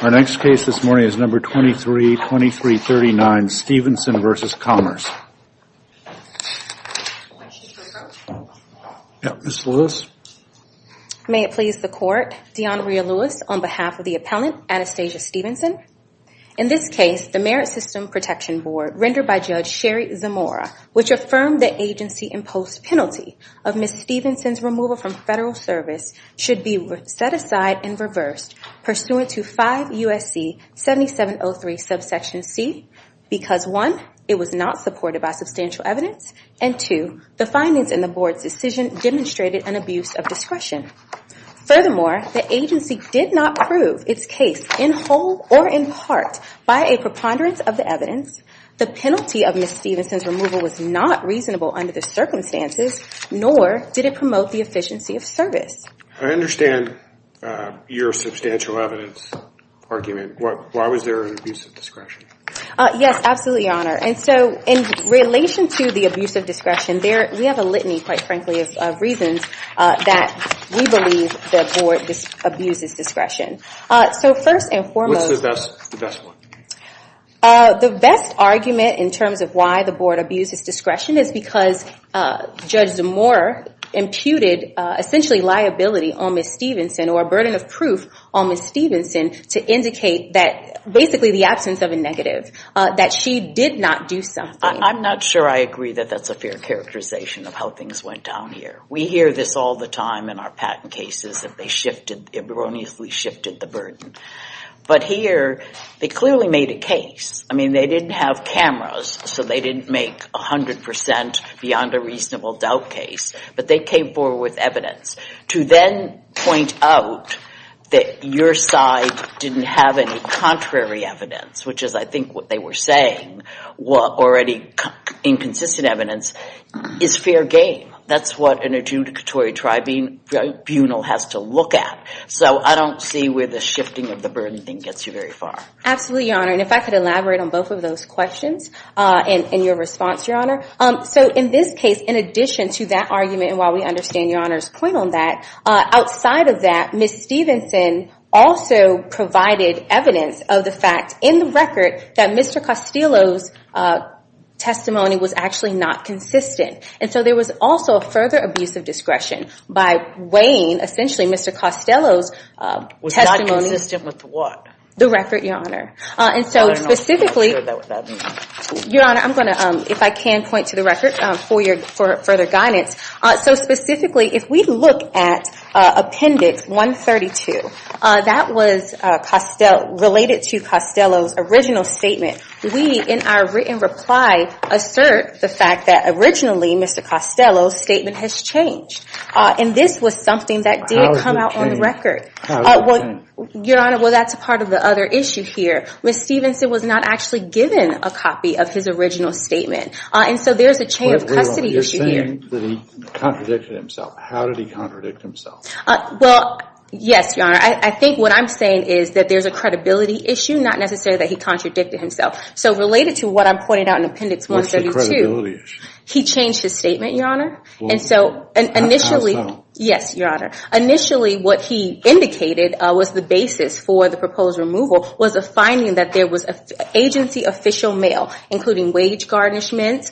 Our next case this morning is number 232339, Stevenson v. Commerce. Yes, Ms. Lewis. May it please the court, Dionria Lewis on behalf of the appellant, Anastasia Stevenson. In this case, the Merit System Protection Board, rendered by Judge Sherry Zamora, which affirmed the agency-imposed penalty of Ms. Stevenson's removal from federal service should be set aside and reversed pursuant to 5 U.S.C. 7703 subsection c, because 1, it was not supported by substantial evidence, and 2, the findings in the board's decision demonstrated an abuse of discretion. Furthermore, the agency did not prove its case in whole or in part by a preponderance of the evidence. The penalty of Ms. Stevenson's removal was not reasonable under the circumstances, nor did it promote the efficiency of service. I understand your substantial evidence argument. Why was there an abuse of discretion? Yes, absolutely, Your Honor. And so in relation to the abuse of discretion, we have a litany, quite frankly, of reasons that we believe the board abuses discretion. So first and foremost... What's the best one? The best argument in terms of why the board abuses discretion is because Judge Zamora imputed essentially liability on Ms. Stevenson or a burden of proof on Ms. Stevenson to indicate that basically the absence of a negative, that she did not do something. I'm not sure I agree that that's a fair characterization of how things went down here. We hear this all the time in our patent cases, that they erroneously shifted the burden. But here, they clearly made a case. I mean, they didn't have cameras, so they didn't make 100 percent beyond a reasonable doubt case, but they came forward with evidence to then point out that your side didn't have any contrary evidence, which is, I think, what they were saying, or any inconsistent evidence is fair game. That's what an adjudicatory tribunal has to look at. So I don't see where the shifting of the burden thing gets you very far. Absolutely, Your Honor. And if I could elaborate on both of those questions and your response, Your Honor. So in this case, in addition to that argument, and while we understand Your Honor's point on that, outside of that, Ms. Stevenson also provided evidence of the fact in the record that Mr. Costello's testimony was actually not consistent. And so there was also a further abuse of discretion by weighing, essentially, Mr. Costello's testimony. Was not consistent with what? The record, Your Honor. And so specifically, Your Honor, I'm going to, if I can, point to the record for further guidance. So specifically, if we look at Appendix 132, that was related to Costello's original statement. We, in our written reply, assert the fact that originally, Mr. Costello's statement has changed. And this was something that did come out on the record. Your Honor, well, that's part of the other issue here. Ms. Stevenson was not actually given a copy of his original statement. And so there's a chain of custody issue here. You're saying that he contradicted himself. How did he contradict himself? Well, yes, Your Honor. I think what I'm saying is that there's a credibility issue, not necessarily that he contradicted himself. So related to what I'm pointing out in Appendix 132, he changed his statement, Your Honor. And so initially, yes, Your Honor. Initially, what he indicated was the basis for the proposed removal was a finding that there was agency official mail, including wage garnishments,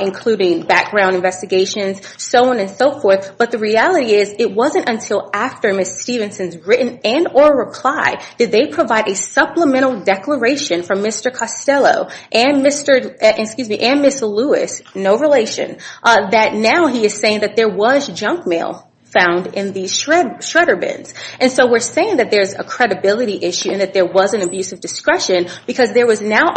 including background investigations, so on and so forth. But the reality is, it wasn't until after Ms. Stevenson's written and or reply did they provide a supplemental declaration from Mr. Costello and Ms. Lewis, no relation, that now he is saying that there was junk mail found in these shredder bins. And so we're saying that there's a credibility issue and that there was an abuse of discretion because there is now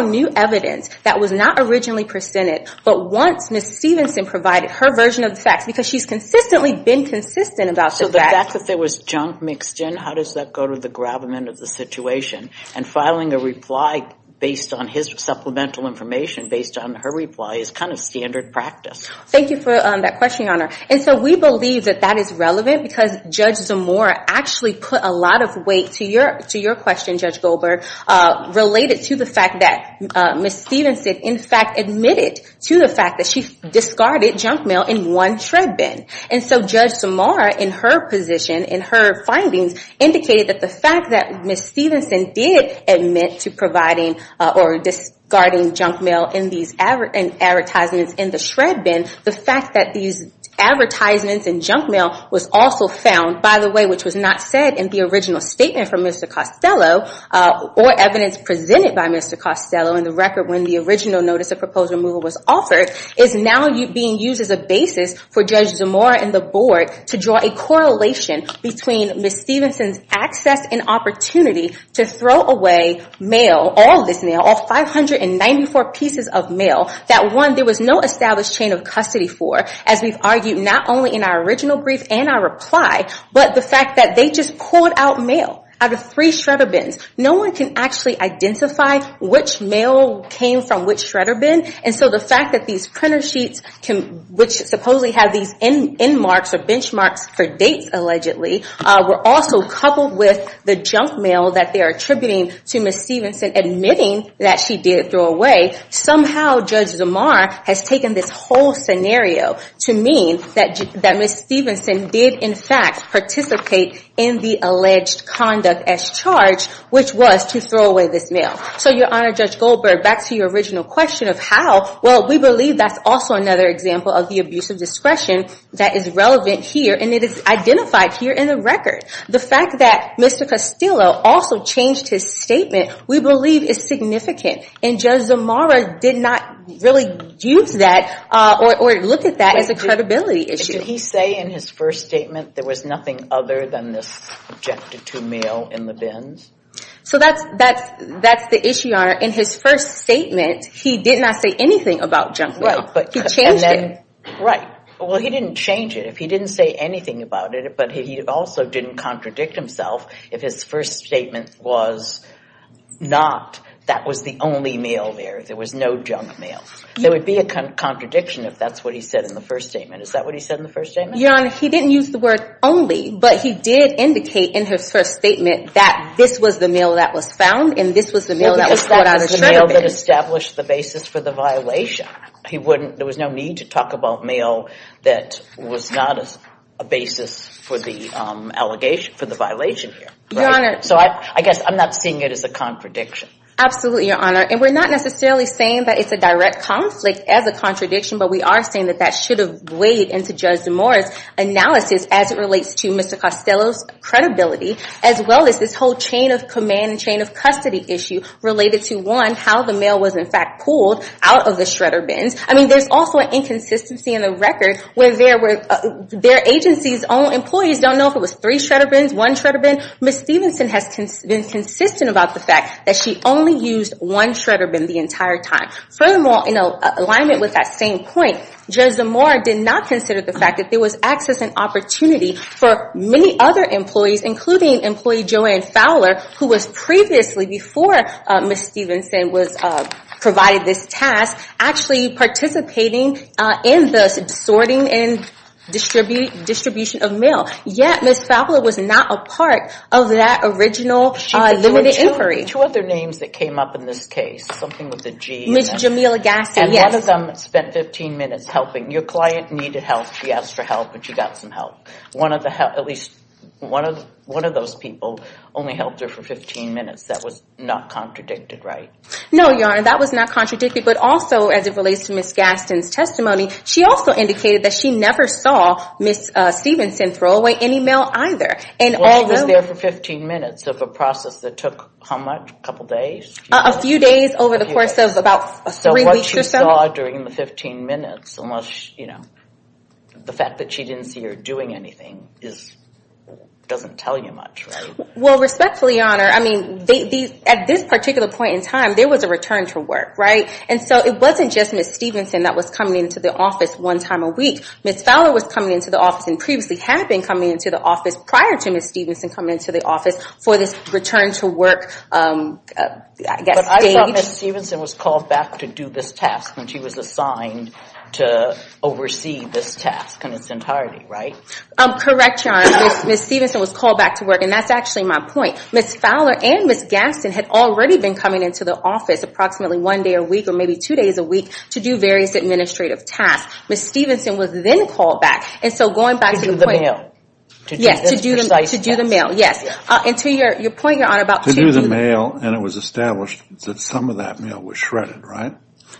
new evidence that was not originally presented, but once Ms. Stevenson provided her version of the facts, because she's consistently been consistent about the facts. So the fact that there was junk mixed in, how does that go to the gravamen of the situation? And filing a reply based on his supplemental information, based on her reply, is kind of standard practice. Thank you for that question, Your Honor. And so we believe that that is relevant because Judge Zamora actually put a lot of weight to your question, Judge Goldberg, related to the fact that Ms. Stevenson in fact admitted to the fact that she discarded junk mail in one shred bin. And so Judge Zamora, in her position, in her findings, indicated that the fact that Ms. Stevenson did admit to providing or discarding junk mail in these advertisements in the shred bin, the fact that these advertisements and junk mail was also found, by the way, which was not said in the original statement from Mr. Costello, or evidence presented by Mr. Costello in the record when the original notice of proposed removal was offered, is now being used as a basis for Judge Zamora and the Board to draw a correlation between Ms. Stevenson's access and opportunity to throw away mail, all this mail, all 594 pieces of mail, that one, there was no established chain of custody for, as we've argued not only in our original brief and our reply, but the fact that they just pulled out mail out of three shredder bins. No one can actually identify which mail came from which shredder bin. And so the fact that these printer sheets, which supposedly have these end marks or benchmarks for dates allegedly, were also coupled with the junk mail that they're attributing to Ms. Stevenson admitting that she did throw away, somehow Judge Zamora has taken this whole scenario to mean that Ms. Stevenson did, in fact, participate in the alleged conduct as charged, which was to throw away this mail. So Your Honor, Judge Goldberg, back to your original question of how, well, we believe that's also another example of the abuse of discretion that is relevant here, and it is identified here in the record. The fact that Mr. Castillo also changed his statement, we believe is significant. And Judge Zamora did not really use that or look at that as a credibility issue. Did he say in his first statement there was nothing other than this junk to two mail in the bins? So that's the issue, Your Honor. In his first statement, he did not say anything about junk mail. He changed it. Right. Well, he didn't change it. If he didn't say anything about it, but he also didn't contradict himself, if his first statement was not that was the only mail there, there was no junk mail, there would be a contradiction if that's what he said in the first statement. Is that what he said in the first statement? Your Honor, he didn't use the word only, but he did indicate in his first statement that this was the mail that was found, and this was the mail that was thrown out of the bin. Well, because that was the mail that established the basis for the violation. He wouldn't, there was no need to talk about mail that was not a basis for the allegation, for the violation here. Right? Your Honor. So I guess I'm not seeing it as a contradiction. Absolutely, Your Honor. And we're not necessarily saying that it's a direct conflict as a contradiction, but we are saying that that should have weighed into Judge DeMora's analysis as it relates to Mr. Costello's credibility, as well as this whole chain of command and chain of custody issue related to, one, how the mail was in fact pulled out of the shredder bins. I mean, there's also an inconsistency in the record where their agency's own employees don't know if it was three shredder bins, one shredder bin. Ms. Stephenson has been consistent about the fact that she only used one shredder bin the entire time. Furthermore, in alignment with that same point, Judge DeMora did not consider the fact that there was access and opportunity for many other employees, including employee Joanne Fowler, who was previously, before Ms. Stephenson was provided this task, actually participating in the sorting and distribution of mail. Yet, Ms. Fowler was not a part of that original limited inquiry. Two other names that came up in this case, something with the G. Ms. Jamila Gassi. Yes. And one of them spent 15 minutes helping. Your client needed help, she asked for help, and she got some help. One of the help, at least one of those people only helped her for 15 minutes, that was not contradicted, right? No, Your Honor, that was not contradicted, but also, as it relates to Ms. Gaston's testimony, she also indicated that she never saw Ms. Stephenson throw away any mail either, and although- Well, she was there for 15 minutes of a process that took, how much, a couple days? A few days over the course of about three weeks or so. So, what she saw during the 15 minutes, unless, you know, the fact that she didn't see her doing anything doesn't tell you much, right? Well, respectfully, Your Honor, I mean, at this particular point in time, there was a return to work, right? And so, it wasn't just Ms. Stephenson that was coming into the office one time a week. Ms. Fowler was coming into the office and previously had been coming into the office prior to Ms. Stephenson coming into the office for this return to work, I guess, stage. But I thought Ms. Stephenson was called back to do this task, and she was assigned to oversee this task in its entirety, right? Correct, Your Honor. Ms. Stephenson was called back to work, and that's actually my point. Ms. Fowler and Ms. Gaston had already been coming into the office approximately one day a week or maybe two days a week to do various administrative tasks. Ms. Stephenson was then called back, and so going back to the point- To do the mail. Yes. To do the mail, yes. And to your point, Your Honor, about- To do the mail, and it was established that some of that mail was shredded, right?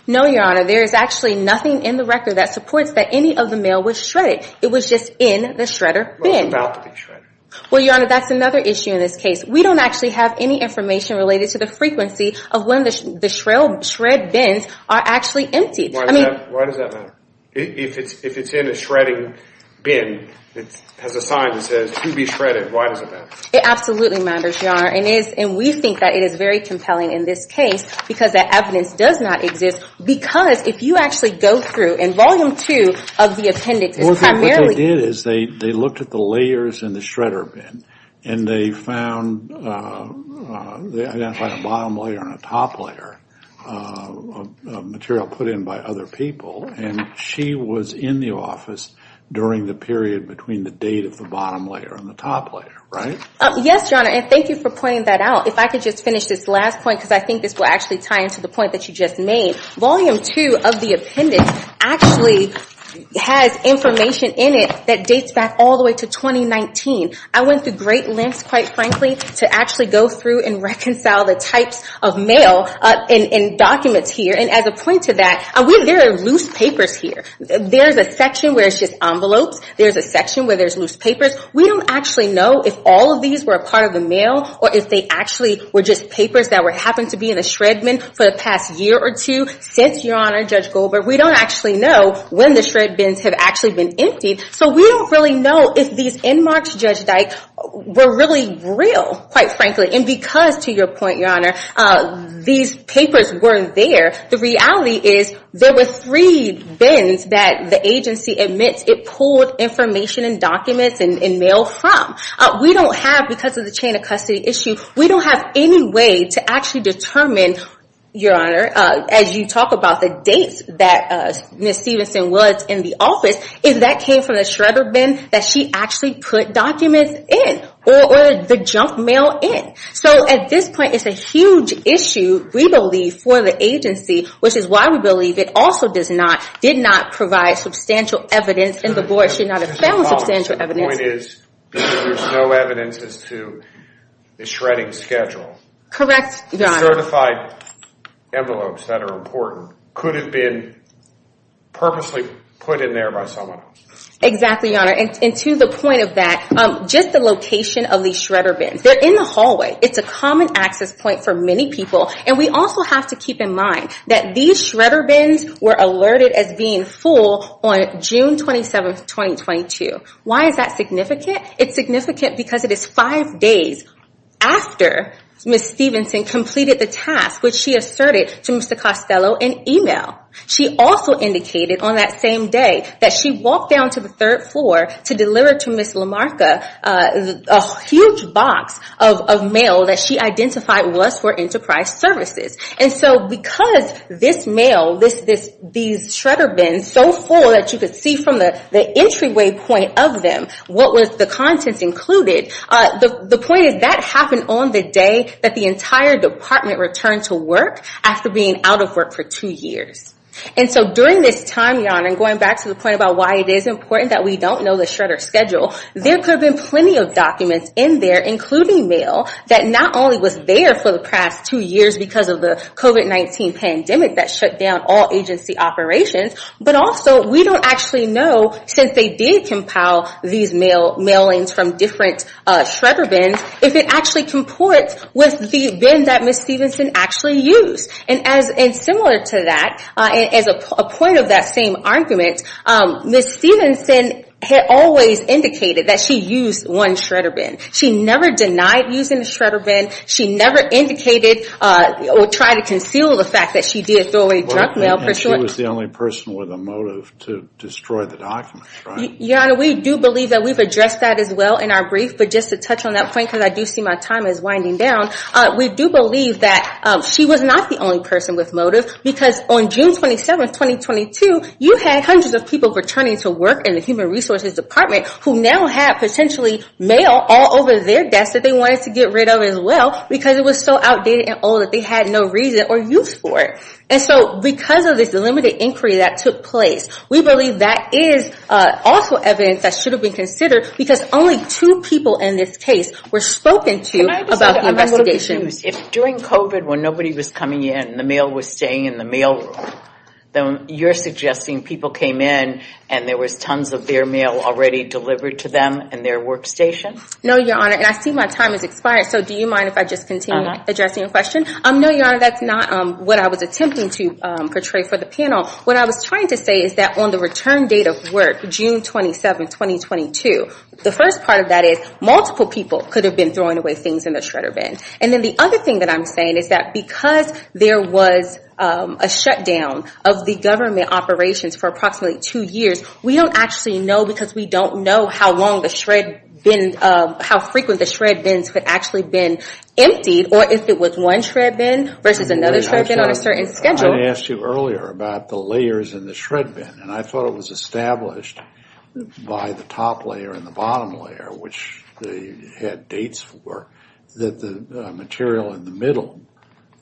No, Your Honor. There is actually nothing in the record that supports that any of the mail was shredded. It was just in the shredder bin. Well, it's about to be shredded. Well, Your Honor, that's another issue in this case. We don't actually have any information related to the frequency of when the shred bins are actually emptied. I mean- Why does that matter? If it's in a shredding bin, it has a sign that says, to be shredded, why does it matter? It absolutely matters, Your Honor, and we think that it is very compelling in this case because that evidence does not exist because if you actually go through, and Volume 2 of the appendix is primarily- Well, see, what they did is they looked at the layers in the shredder bin, and they found they identified a bottom layer and a top layer of material put in by other people, and she was in the office during the period between the date of the bottom layer and the top layer, right? Yes, Your Honor, and thank you for pointing that out. If I could just finish this last point because I think this will actually tie into the point that you just made. Volume 2 of the appendix actually has information in it that dates back all the way to 2019. I went through great lengths, quite frankly, to actually go through and reconcile the types of mail and documents here, and as a point to that, there are loose papers here. There's a section where it's just envelopes. There's a section where there's loose papers. We don't actually know if all of these were a part of the mail or if they actually were just papers that happened to be in a shred bin for the past year or two since, Your Honor, Judge Goldberg. We don't actually know when the shred bins have actually been emptied, so we don't really know if these end marks, Judge Dyke, were really real, quite frankly, and because, to your point, Your Honor, these papers weren't there. The reality is there were three bins that the agency admits it pulled information and documents and mail from. We don't have, because of the chain of custody issue, we don't have any way to actually determine, Your Honor, as you talk about the dates that Ms. Stevenson was in the office, if that came from the shredder bin that she actually put documents in or the junk mail in. At this point, it's a huge issue, we believe, for the agency, which is why we believe it also did not provide substantial evidence and the board should not have found substantial evidence. The point is, because there's no evidence as to the shredding schedule, certified envelopes that are important could have been purposely put in there by someone else. Exactly, Your Honor, and to the point of that, just the location of these shredder bins. They're in the hallway. It's a common access point for many people, and we also have to keep in mind that these shredder bins were alerted as being full on June 27th, 2022. Why is that significant? It's significant because it is five days after Ms. Stevenson completed the task, which she asserted to Mr. Costello in email. She also indicated on that same day that she walked down to the third floor to deliver to Ms. Lamarca a huge box of mail that she identified was for enterprise services. Because this mail, these shredder bins, so full that you could see from the entryway point of them what was the contents included, the point is that happened on the day that the entire department returned to work after being out of work for two years. During this time, Your Honor, and going back to the point about why it is important that we don't know the shredder schedule, there could have been plenty of documents in there, including mail, that not only was there for the past two years because of the COVID-19 pandemic that shut down all agency operations, but also we don't actually know, since they did compile these mailings from different shredder bins, if it actually comports with the bin that Ms. Stevenson actually used. Similar to that, and as a point of that same argument, Ms. Stevenson had always indicated that she used one shredder bin. She never denied using the shredder bin. She never indicated or tried to conceal the fact that she did throw away junk mail. And she was the only person with a motive to destroy the documents, right? Your Honor, we do believe that we've addressed that as well in our brief, but just to touch on that point, because I do see my time is winding down, we do believe that she was not the only person with motive, because on June 27, 2022, you had hundreds of people returning to work in the Human Resources Department who now have potentially mail all over their desks that they wanted to get rid of as well, because it was so outdated and old that they had no reason or use for it. And so because of this limited inquiry that took place, we believe that is also evidence that should have been considered, because only two people in this case were spoken to about the investigation. Can I just add a little excuse? If during COVID, when nobody was coming in, the mail was staying in the mail room, then you're suggesting people came in and there was tons of their mail already delivered to them in their workstation? No, Your Honor. And I see my time has expired, so do you mind if I just continue addressing your question? No, Your Honor, that's not what I was attempting to portray for the panel. What I was trying to say is that on the return date of work, June 27, 2022, the first part of that is multiple people could have been throwing away things in the shredder bin. And then the other thing that I'm saying is that because there was a shutdown of the government operations for approximately two years, we don't actually know, because we don't know how long the shred bin, how frequent the shred bins had actually been emptied, or if it was one shred bin versus another shred bin on a certain schedule. I asked you earlier about the layers in the shred bin, and I thought it was established by the top layer and the bottom layer, which they had dates for, that the material in the middle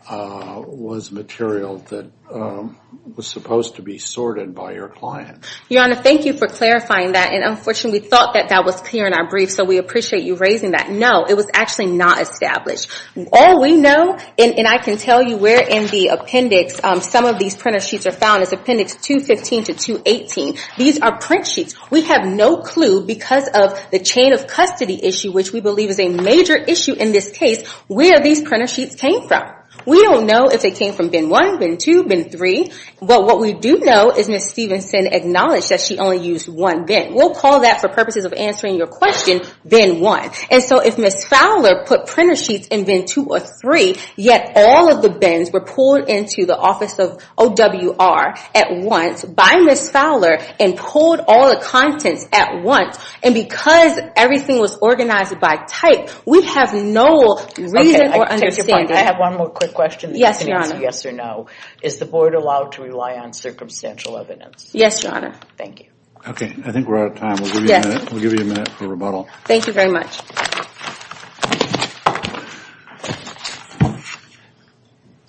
was material that was supposed to be sorted by your client. Your Honor, thank you for clarifying that, and unfortunately, we thought that that was clear in our brief, so we appreciate you raising that. No, it was actually not established. All we know, and I can tell you where in the appendix some of these printer sheets are found is appendix 215 to 218. These are print sheets. We have no clue, because of the chain of custody issue, which we believe is a major issue in this case, where these printer sheets came from. We don't know if they came from bin one, bin two, bin three, but what we do know is Ms. Stevenson acknowledged that she only used one bin. We'll call that, for purposes of answering your question, bin one. And so if Ms. Fowler put printer sheets in bin two or three, yet all of the bins were pulled into the office of OWR at once, by Ms. Fowler, and pulled all the contents at once, and because everything was organized by type, we have no reason or understanding. Okay, I take your point. I have one more quick question. Yes, Your Honor. I can answer yes or no. Is the board allowed to rely on circumstantial evidence? Yes, Your Honor. Thank you. Okay, I think we're out of time. Yes. We'll give you a minute for rebuttal. Thank you very much.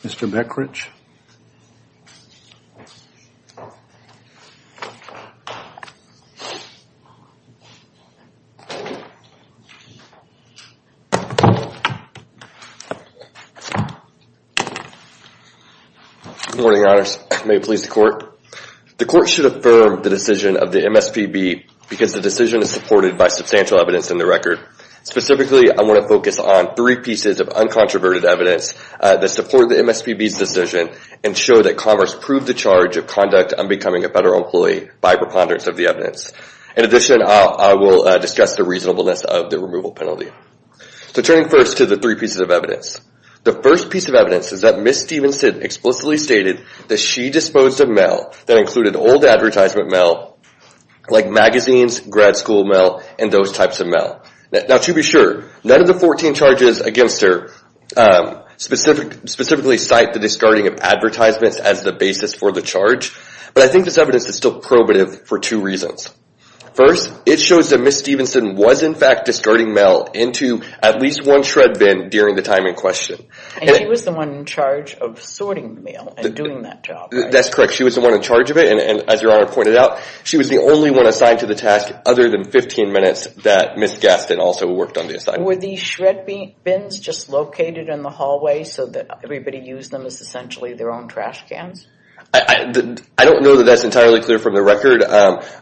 Mr. Beckridge? Good morning, Your Honors. May it please the Court. The Court should affirm the decision of the MSPB because the decision is supported by substantial evidence in the record. Specifically, I want to focus on three pieces of uncontroverted evidence that support the MSPB's decision and show that Commerce proved the charge of conduct unbecoming a federal employee by preponderance of the evidence. In addition, I will discuss the reasonableness of the removal penalty. So turning first to the three pieces of evidence. The first piece of evidence is that Ms. Stevenson explicitly stated that she disposed of mail that included old advertisement mail like magazines, grad school mail, and those types of mail. Now to be sure, none of the 14 charges against her specifically cite the discarding of advertisements as the basis for the charge, but I think this evidence is still probative for two reasons. First, it shows that Ms. Stevenson was in fact discarding mail into at least one shred bin during the time in question. And she was the one in charge of sorting the mail and doing that job, right? That's correct. She was the one in charge of it, and as Your Honor pointed out, she was the only one assigned to the task other than 15 minutes that Ms. Gaston also worked on the assignment. Were these shred bins just located in the hallway so that everybody used them as essentially their own trash cans? I don't know that that's entirely clear from the record,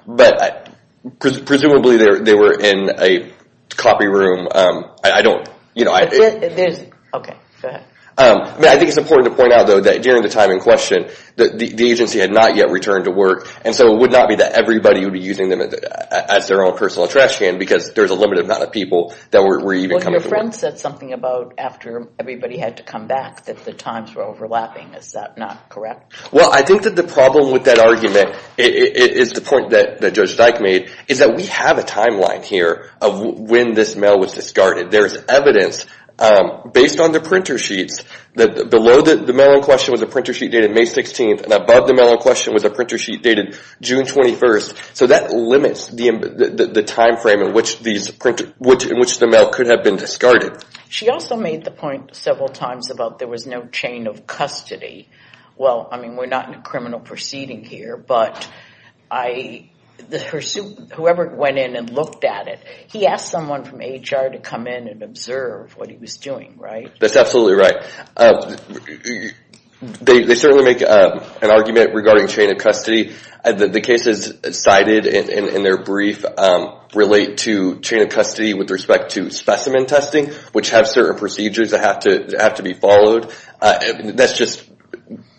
but presumably they were in a copy room. I don't, you know, I think it's important to point out, though, that during the time in question, the agency had not yet returned to work, and so it would not be that everybody would be using them as their own personal trash can because there's a limited amount of people that were even coming to work. Well, your friend said something about after everybody had to come back that the times were overlapping. Is that not correct? Well, I think that the problem with that argument is the point that Judge Dyke made, is that we have a timeline here of when this mail was discarded. There's evidence based on the printer sheets that below the mail in question was a printer sheet dated May 16th and above the mail in question was a printer sheet dated June 21st. So that limits the time frame in which the mail could have been discarded. She also made the point several times about there was no chain of custody. Well, I mean, we're not in a criminal proceeding here, but whoever went in and looked at it, he asked someone from HR to come in and observe what he was doing, right? That's absolutely right. They certainly make an argument regarding chain of custody. The cases cited in their brief relate to chain of custody with respect to specimen testing, which have certain procedures that have to be followed. That's just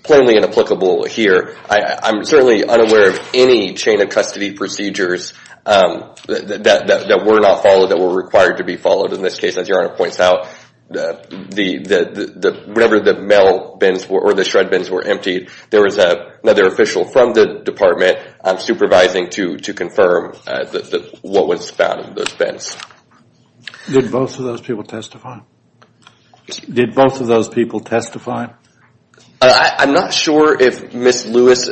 plainly inapplicable here. I'm certainly unaware of any chain of custody procedures that were not followed that were required to be followed. In this case, as Your Honor points out, whenever the mail bins or the shred bins were emptied, there was another official from the department supervising to confirm what was found in those Did both of those people testify? Did both of those people testify? I'm not sure if Ms. Lewis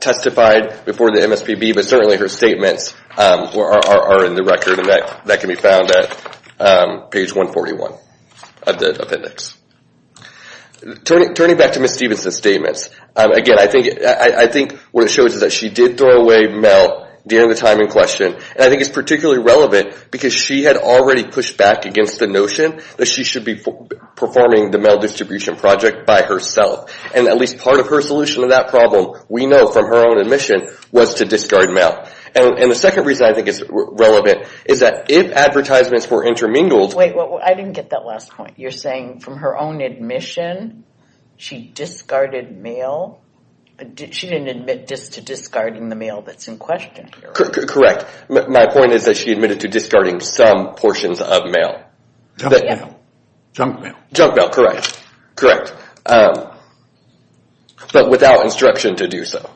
testified before the MSPB, but certainly her statements are in the record, and that can be found at page 141 of the appendix. Turning back to Ms. Stevenson's statements, again, I think what it shows is that she did throw away mail during the time in question, and I think it's particularly relevant because she had already pushed back against the notion that she should be performing the mail distribution project by herself. And at least part of her solution to that problem, we know from her own admission, was to discard mail. And the second reason I think it's relevant is that if advertisements were intermingled... Wait, I didn't get that last point. You're saying from her own admission, she discarded mail? She didn't admit just to discarding the mail that's in question? Correct. My point is that she admitted to discarding some portions of mail. Junk mail. Junk mail, correct. But without instruction to do so.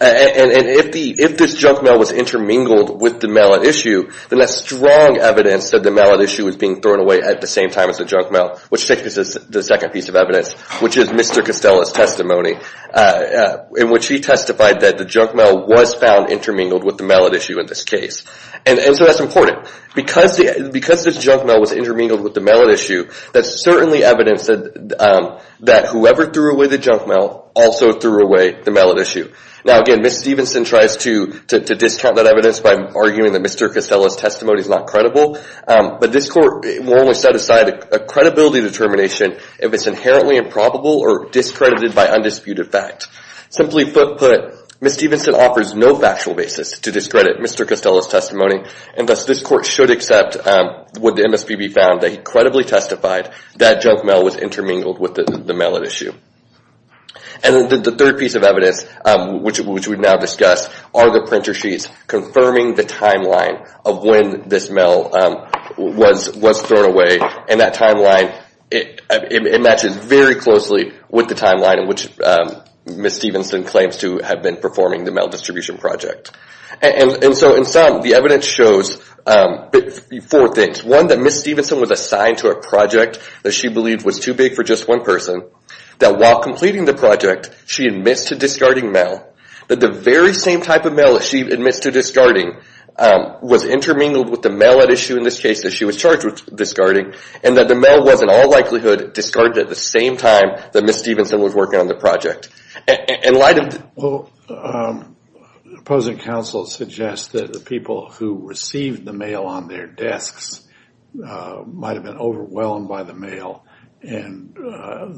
And if this junk mail was intermingled with the mail at issue, then that's strong evidence that the mail at issue was being thrown away at the same time as the junk mail, which takes us to the second piece of evidence, which is Mr. Costella's testimony, in which he testified that the junk mail was found intermingled with the mail at issue in this case. And so that's important. Because this junk mail was intermingled with the mail at issue, that's certainly evidence that whoever threw away the junk mail also threw away the mail at issue. Now again, Ms. Stevenson tries to discount that evidence by arguing that Mr. Costella's testimony is not credible. But this court will only set aside a credibility determination if it's inherently improbable or discredited by undisputed fact. Simply put, Ms. Stevenson offers no factual basis to discredit Mr. Costella's testimony, and thus this court should accept, would the MSPB found that he credibly testified that junk mail was intermingled with the mail at issue. And the third piece of evidence, which we've now discussed, are the printer sheets confirming the timeline of when this mail was thrown away. And that timeline, it matches very closely with the timeline in which Ms. Stevenson claims to have been performing the mail distribution project. And so in sum, the evidence shows four things. One, that Ms. Stevenson was assigned to a project that she believed was too big for just one person, that while completing the project, she admits to discarding mail, that the very same type of mail that she admits to discarding was intermingled with the mail at issue in this case that she was charged with discarding, and that the mail was in all likelihood discarded at the same time that Ms. Stevenson was working on the project. Well, opposing counsel suggests that the people who received the mail on their desks might have been overwhelmed by the mail, and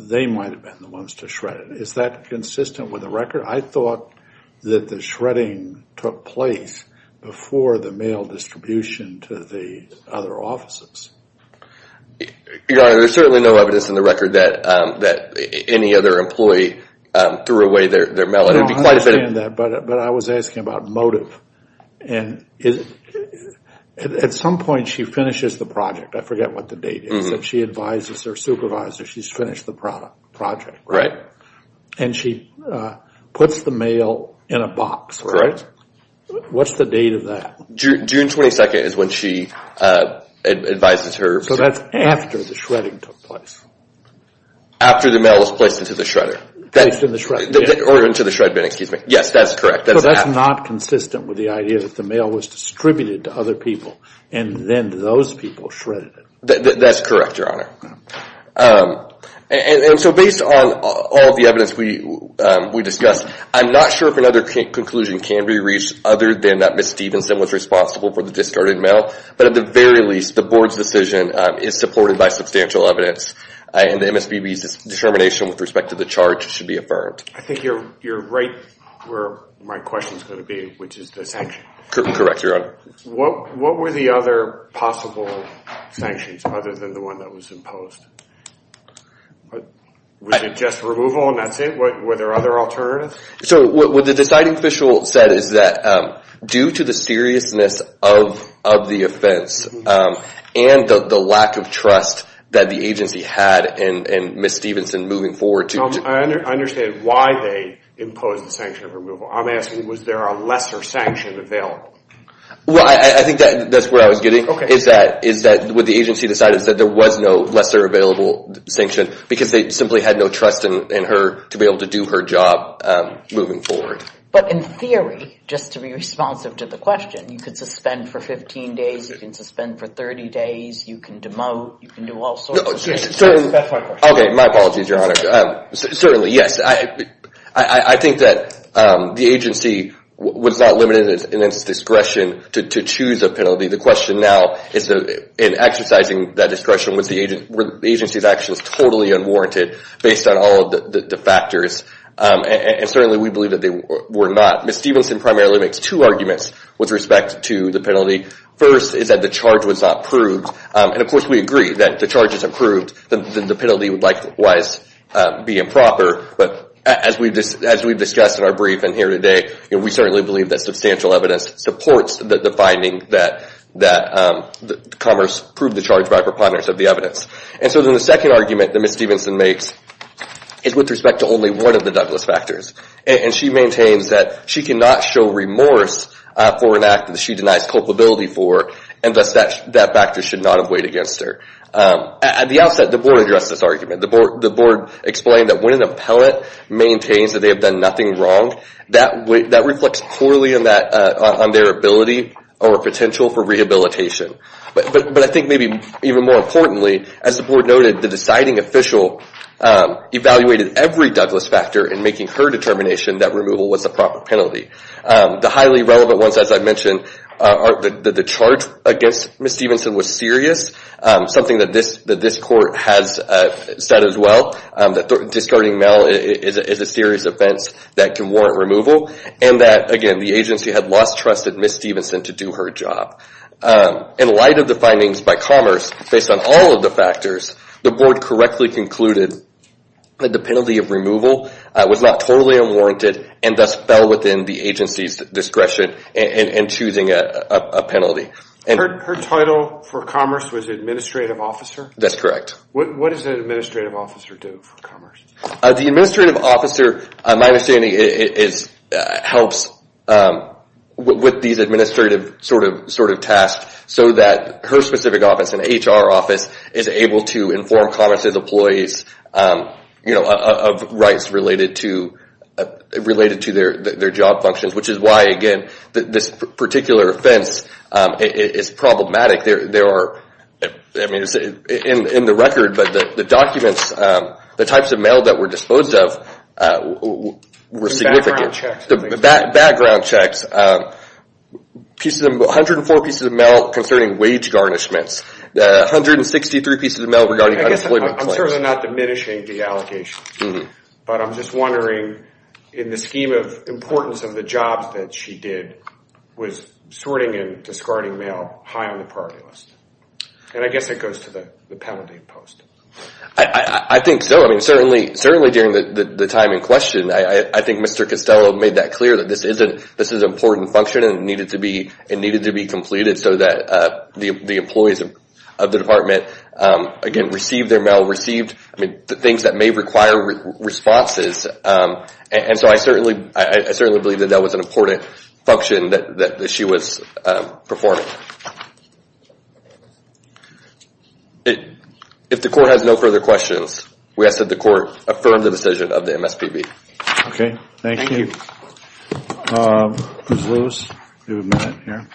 they might have been the ones to shred it. Is that consistent with the record? I thought that the shredding took place before the mail distribution to the other offices. Your Honor, there's certainly no evidence in the record that any other employee threw away their mail. I understand that, but I was asking about motive. At some point, she finishes the project. I forget what the date is. If she advises her supervisor, she's finished the project. Right. And she puts the mail in a box. Correct. What's the date of that? June 22nd is when she advises her. So that's after the shredding took place. After the mail was placed into the shredder. Or into the shred bin, excuse me. Yes, that's correct. So that's not consistent with the idea that the mail was distributed to other people, and then those people shredded it. That's correct, Your Honor. And so based on all the evidence we discussed, I'm not sure if another conclusion can be reached other than that Ms. Stevenson was responsible for the discarded mail. But at the very least, the board's decision is supported by substantial evidence. And the MSPB's determination with respect to the charge should be affirmed. I think you're right where my question is going to be, which is the sanction. Correct, Your Honor. What were the other possible sanctions other than the one that was imposed? Was it just removal and that's it? Were there other alternatives? So what the deciding official said is that due to the seriousness of the offense and the lack of trust that the agency had in Ms. Stevenson moving forward. I understand why they imposed the sanction of removal. I'm asking was there a lesser sanction available? Well, I think that's where I was getting. Is that what the agency decided is that there was no lesser available sanction because they simply had no trust in her to be able to do her job moving forward. But in theory, just to be responsive to the question, you could suspend for 15 days, you can suspend for 30 days, you can demote, you can do all sorts of things. That's my question. Okay, my apologies, Your Honor. Certainly, yes. I think that the agency was not limited in its discretion to choose a penalty. The question now is in exercising that discretion, was the agency's actions totally unwarranted based on all of the factors? And certainly, we believe that they were not. Ms. Stevenson primarily makes two arguments with respect to the penalty. First is that the charge was not proved. And of course, we agree that if the charge is approved, then the penalty would likewise be improper. But as we've discussed in our briefing here today, we certainly believe that substantial evidence supports the finding that Commerce proved the charge by preponderance of the evidence. And so then the second argument that Ms. Stevenson makes is with respect to only one of the Douglas factors. And she maintains that she cannot show remorse for an act that she denies culpability for, and thus that factor should not have weighed against her. At the outset, the Board addressed this argument. The Board explained that when an appellate maintains that they have done nothing wrong, that reflects poorly on their ability or potential for rehabilitation. But I think maybe even more importantly, as the Board noted, the deciding official evaluated every Douglas factor in making her determination that removal was the proper penalty. The highly relevant ones, as I mentioned, are that the charge against Ms. Stevenson was serious, something that this court has said as well, that discarding Mel is a serious offense that can warrant removal, and that, again, the agency had lost trust in Ms. Stevenson to do her job. In light of the findings by Commerce, based on all of the factors, the Board correctly concluded that the penalty of removal was not totally unwarranted and thus fell within the agency's discretion in choosing a penalty. Her title for Commerce was Administrative Officer? That's correct. What does an Administrative Officer do for Commerce? The Administrative Officer, my understanding, helps with these administrative tasks so that her specific office, an HR office, is able to inform Commerce's employees of rights related to their job functions, which is why, again, this particular offense is problematic. There are, I mean, it's in the record, but the documents, the types of mail that were disposed of were significant. Background checks. Background checks, 104 pieces of mail concerning wage garnishments, 163 pieces of mail regarding unemployment claims. I'm certainly not diminishing the allegations, but I'm just wondering, in the scheme of importance of the jobs that she did, was sorting and discarding mail high on the priority list? And I guess it goes to the penalty post. I think so. I mean, certainly during the time in question, I think Mr. Costello made that clear that this is an important function and it needed to be completed so that the employees of the department, again, received their mail, received the things that may require responses. And so I certainly believe that that was an important function that she was performing. If the court has no further questions, we ask that the court affirm the decision of the MSPB. Okay, thank you. Ms. Lewis, you have a minute here.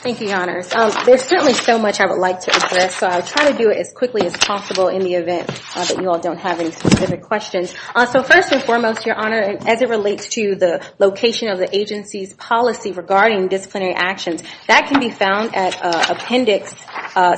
Thank you, Your Honors. There's certainly so much I would like to address, so I'll try to do it as quickly as possible in the event that you all don't have any specific questions. So first and foremost, Your Honor, as it relates to the location of the agency's policy regarding disciplinary actions, that can be found at Appendix,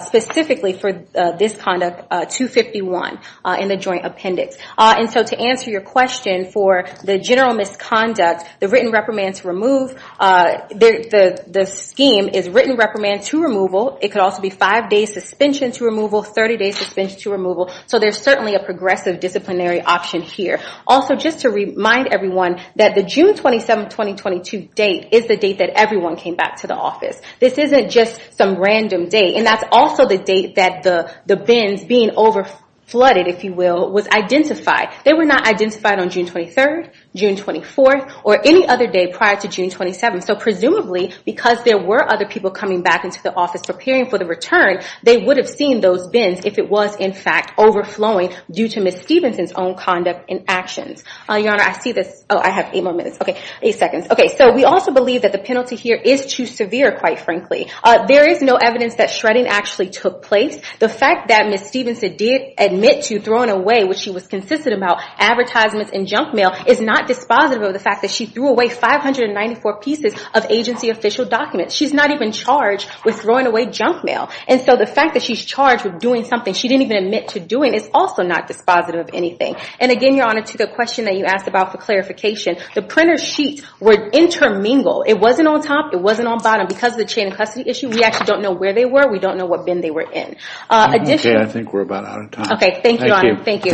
specifically for this conduct, 251 in the Joint Appendix. And so to answer your question for the general misconduct, the written reprimand to remove, the scheme is written reprimand to removal. It could also be five days suspension to removal, 30 days suspension to removal. So there's certainly a progressive disciplinary option here. Also, just to remind everyone that the June 27, 2022 date is the date that everyone came back to the office. This isn't just some random date. And that's also the date that the bins being over flooded, if you will, was identified. They were not identified on June 23rd, June 24th, or any other day prior to June 27th. So presumably, because there were other people coming back into the office preparing for the return, they would have seen those bins if it was, in fact, overflowing due to Ms. Stephenson's own conduct and actions. Your Honor, I see this. Oh, I have eight more minutes. Okay, eight seconds. Okay, so we also believe that the penalty here is too severe, quite frankly. There is no evidence that shredding actually took place. The fact that Ms. Stephenson did admit to throwing away what she was consistent about, advertisements and junk mail, is not dispositive of the fact that she threw away 594 pieces of agency official documents. She's not even charged with throwing away junk mail. And so the fact that she's charged with doing something she didn't even admit to doing is also not dispositive of anything. And again, Your Honor, to the question that you asked about for clarification, the printer sheets were intermingled. It wasn't on top. It wasn't on bottom. Because of the chain of custody issue, we actually don't know where they were. We don't know what bin they were in. Okay, I think we're about out of time. Okay, thank you, Your Honor. Thank you.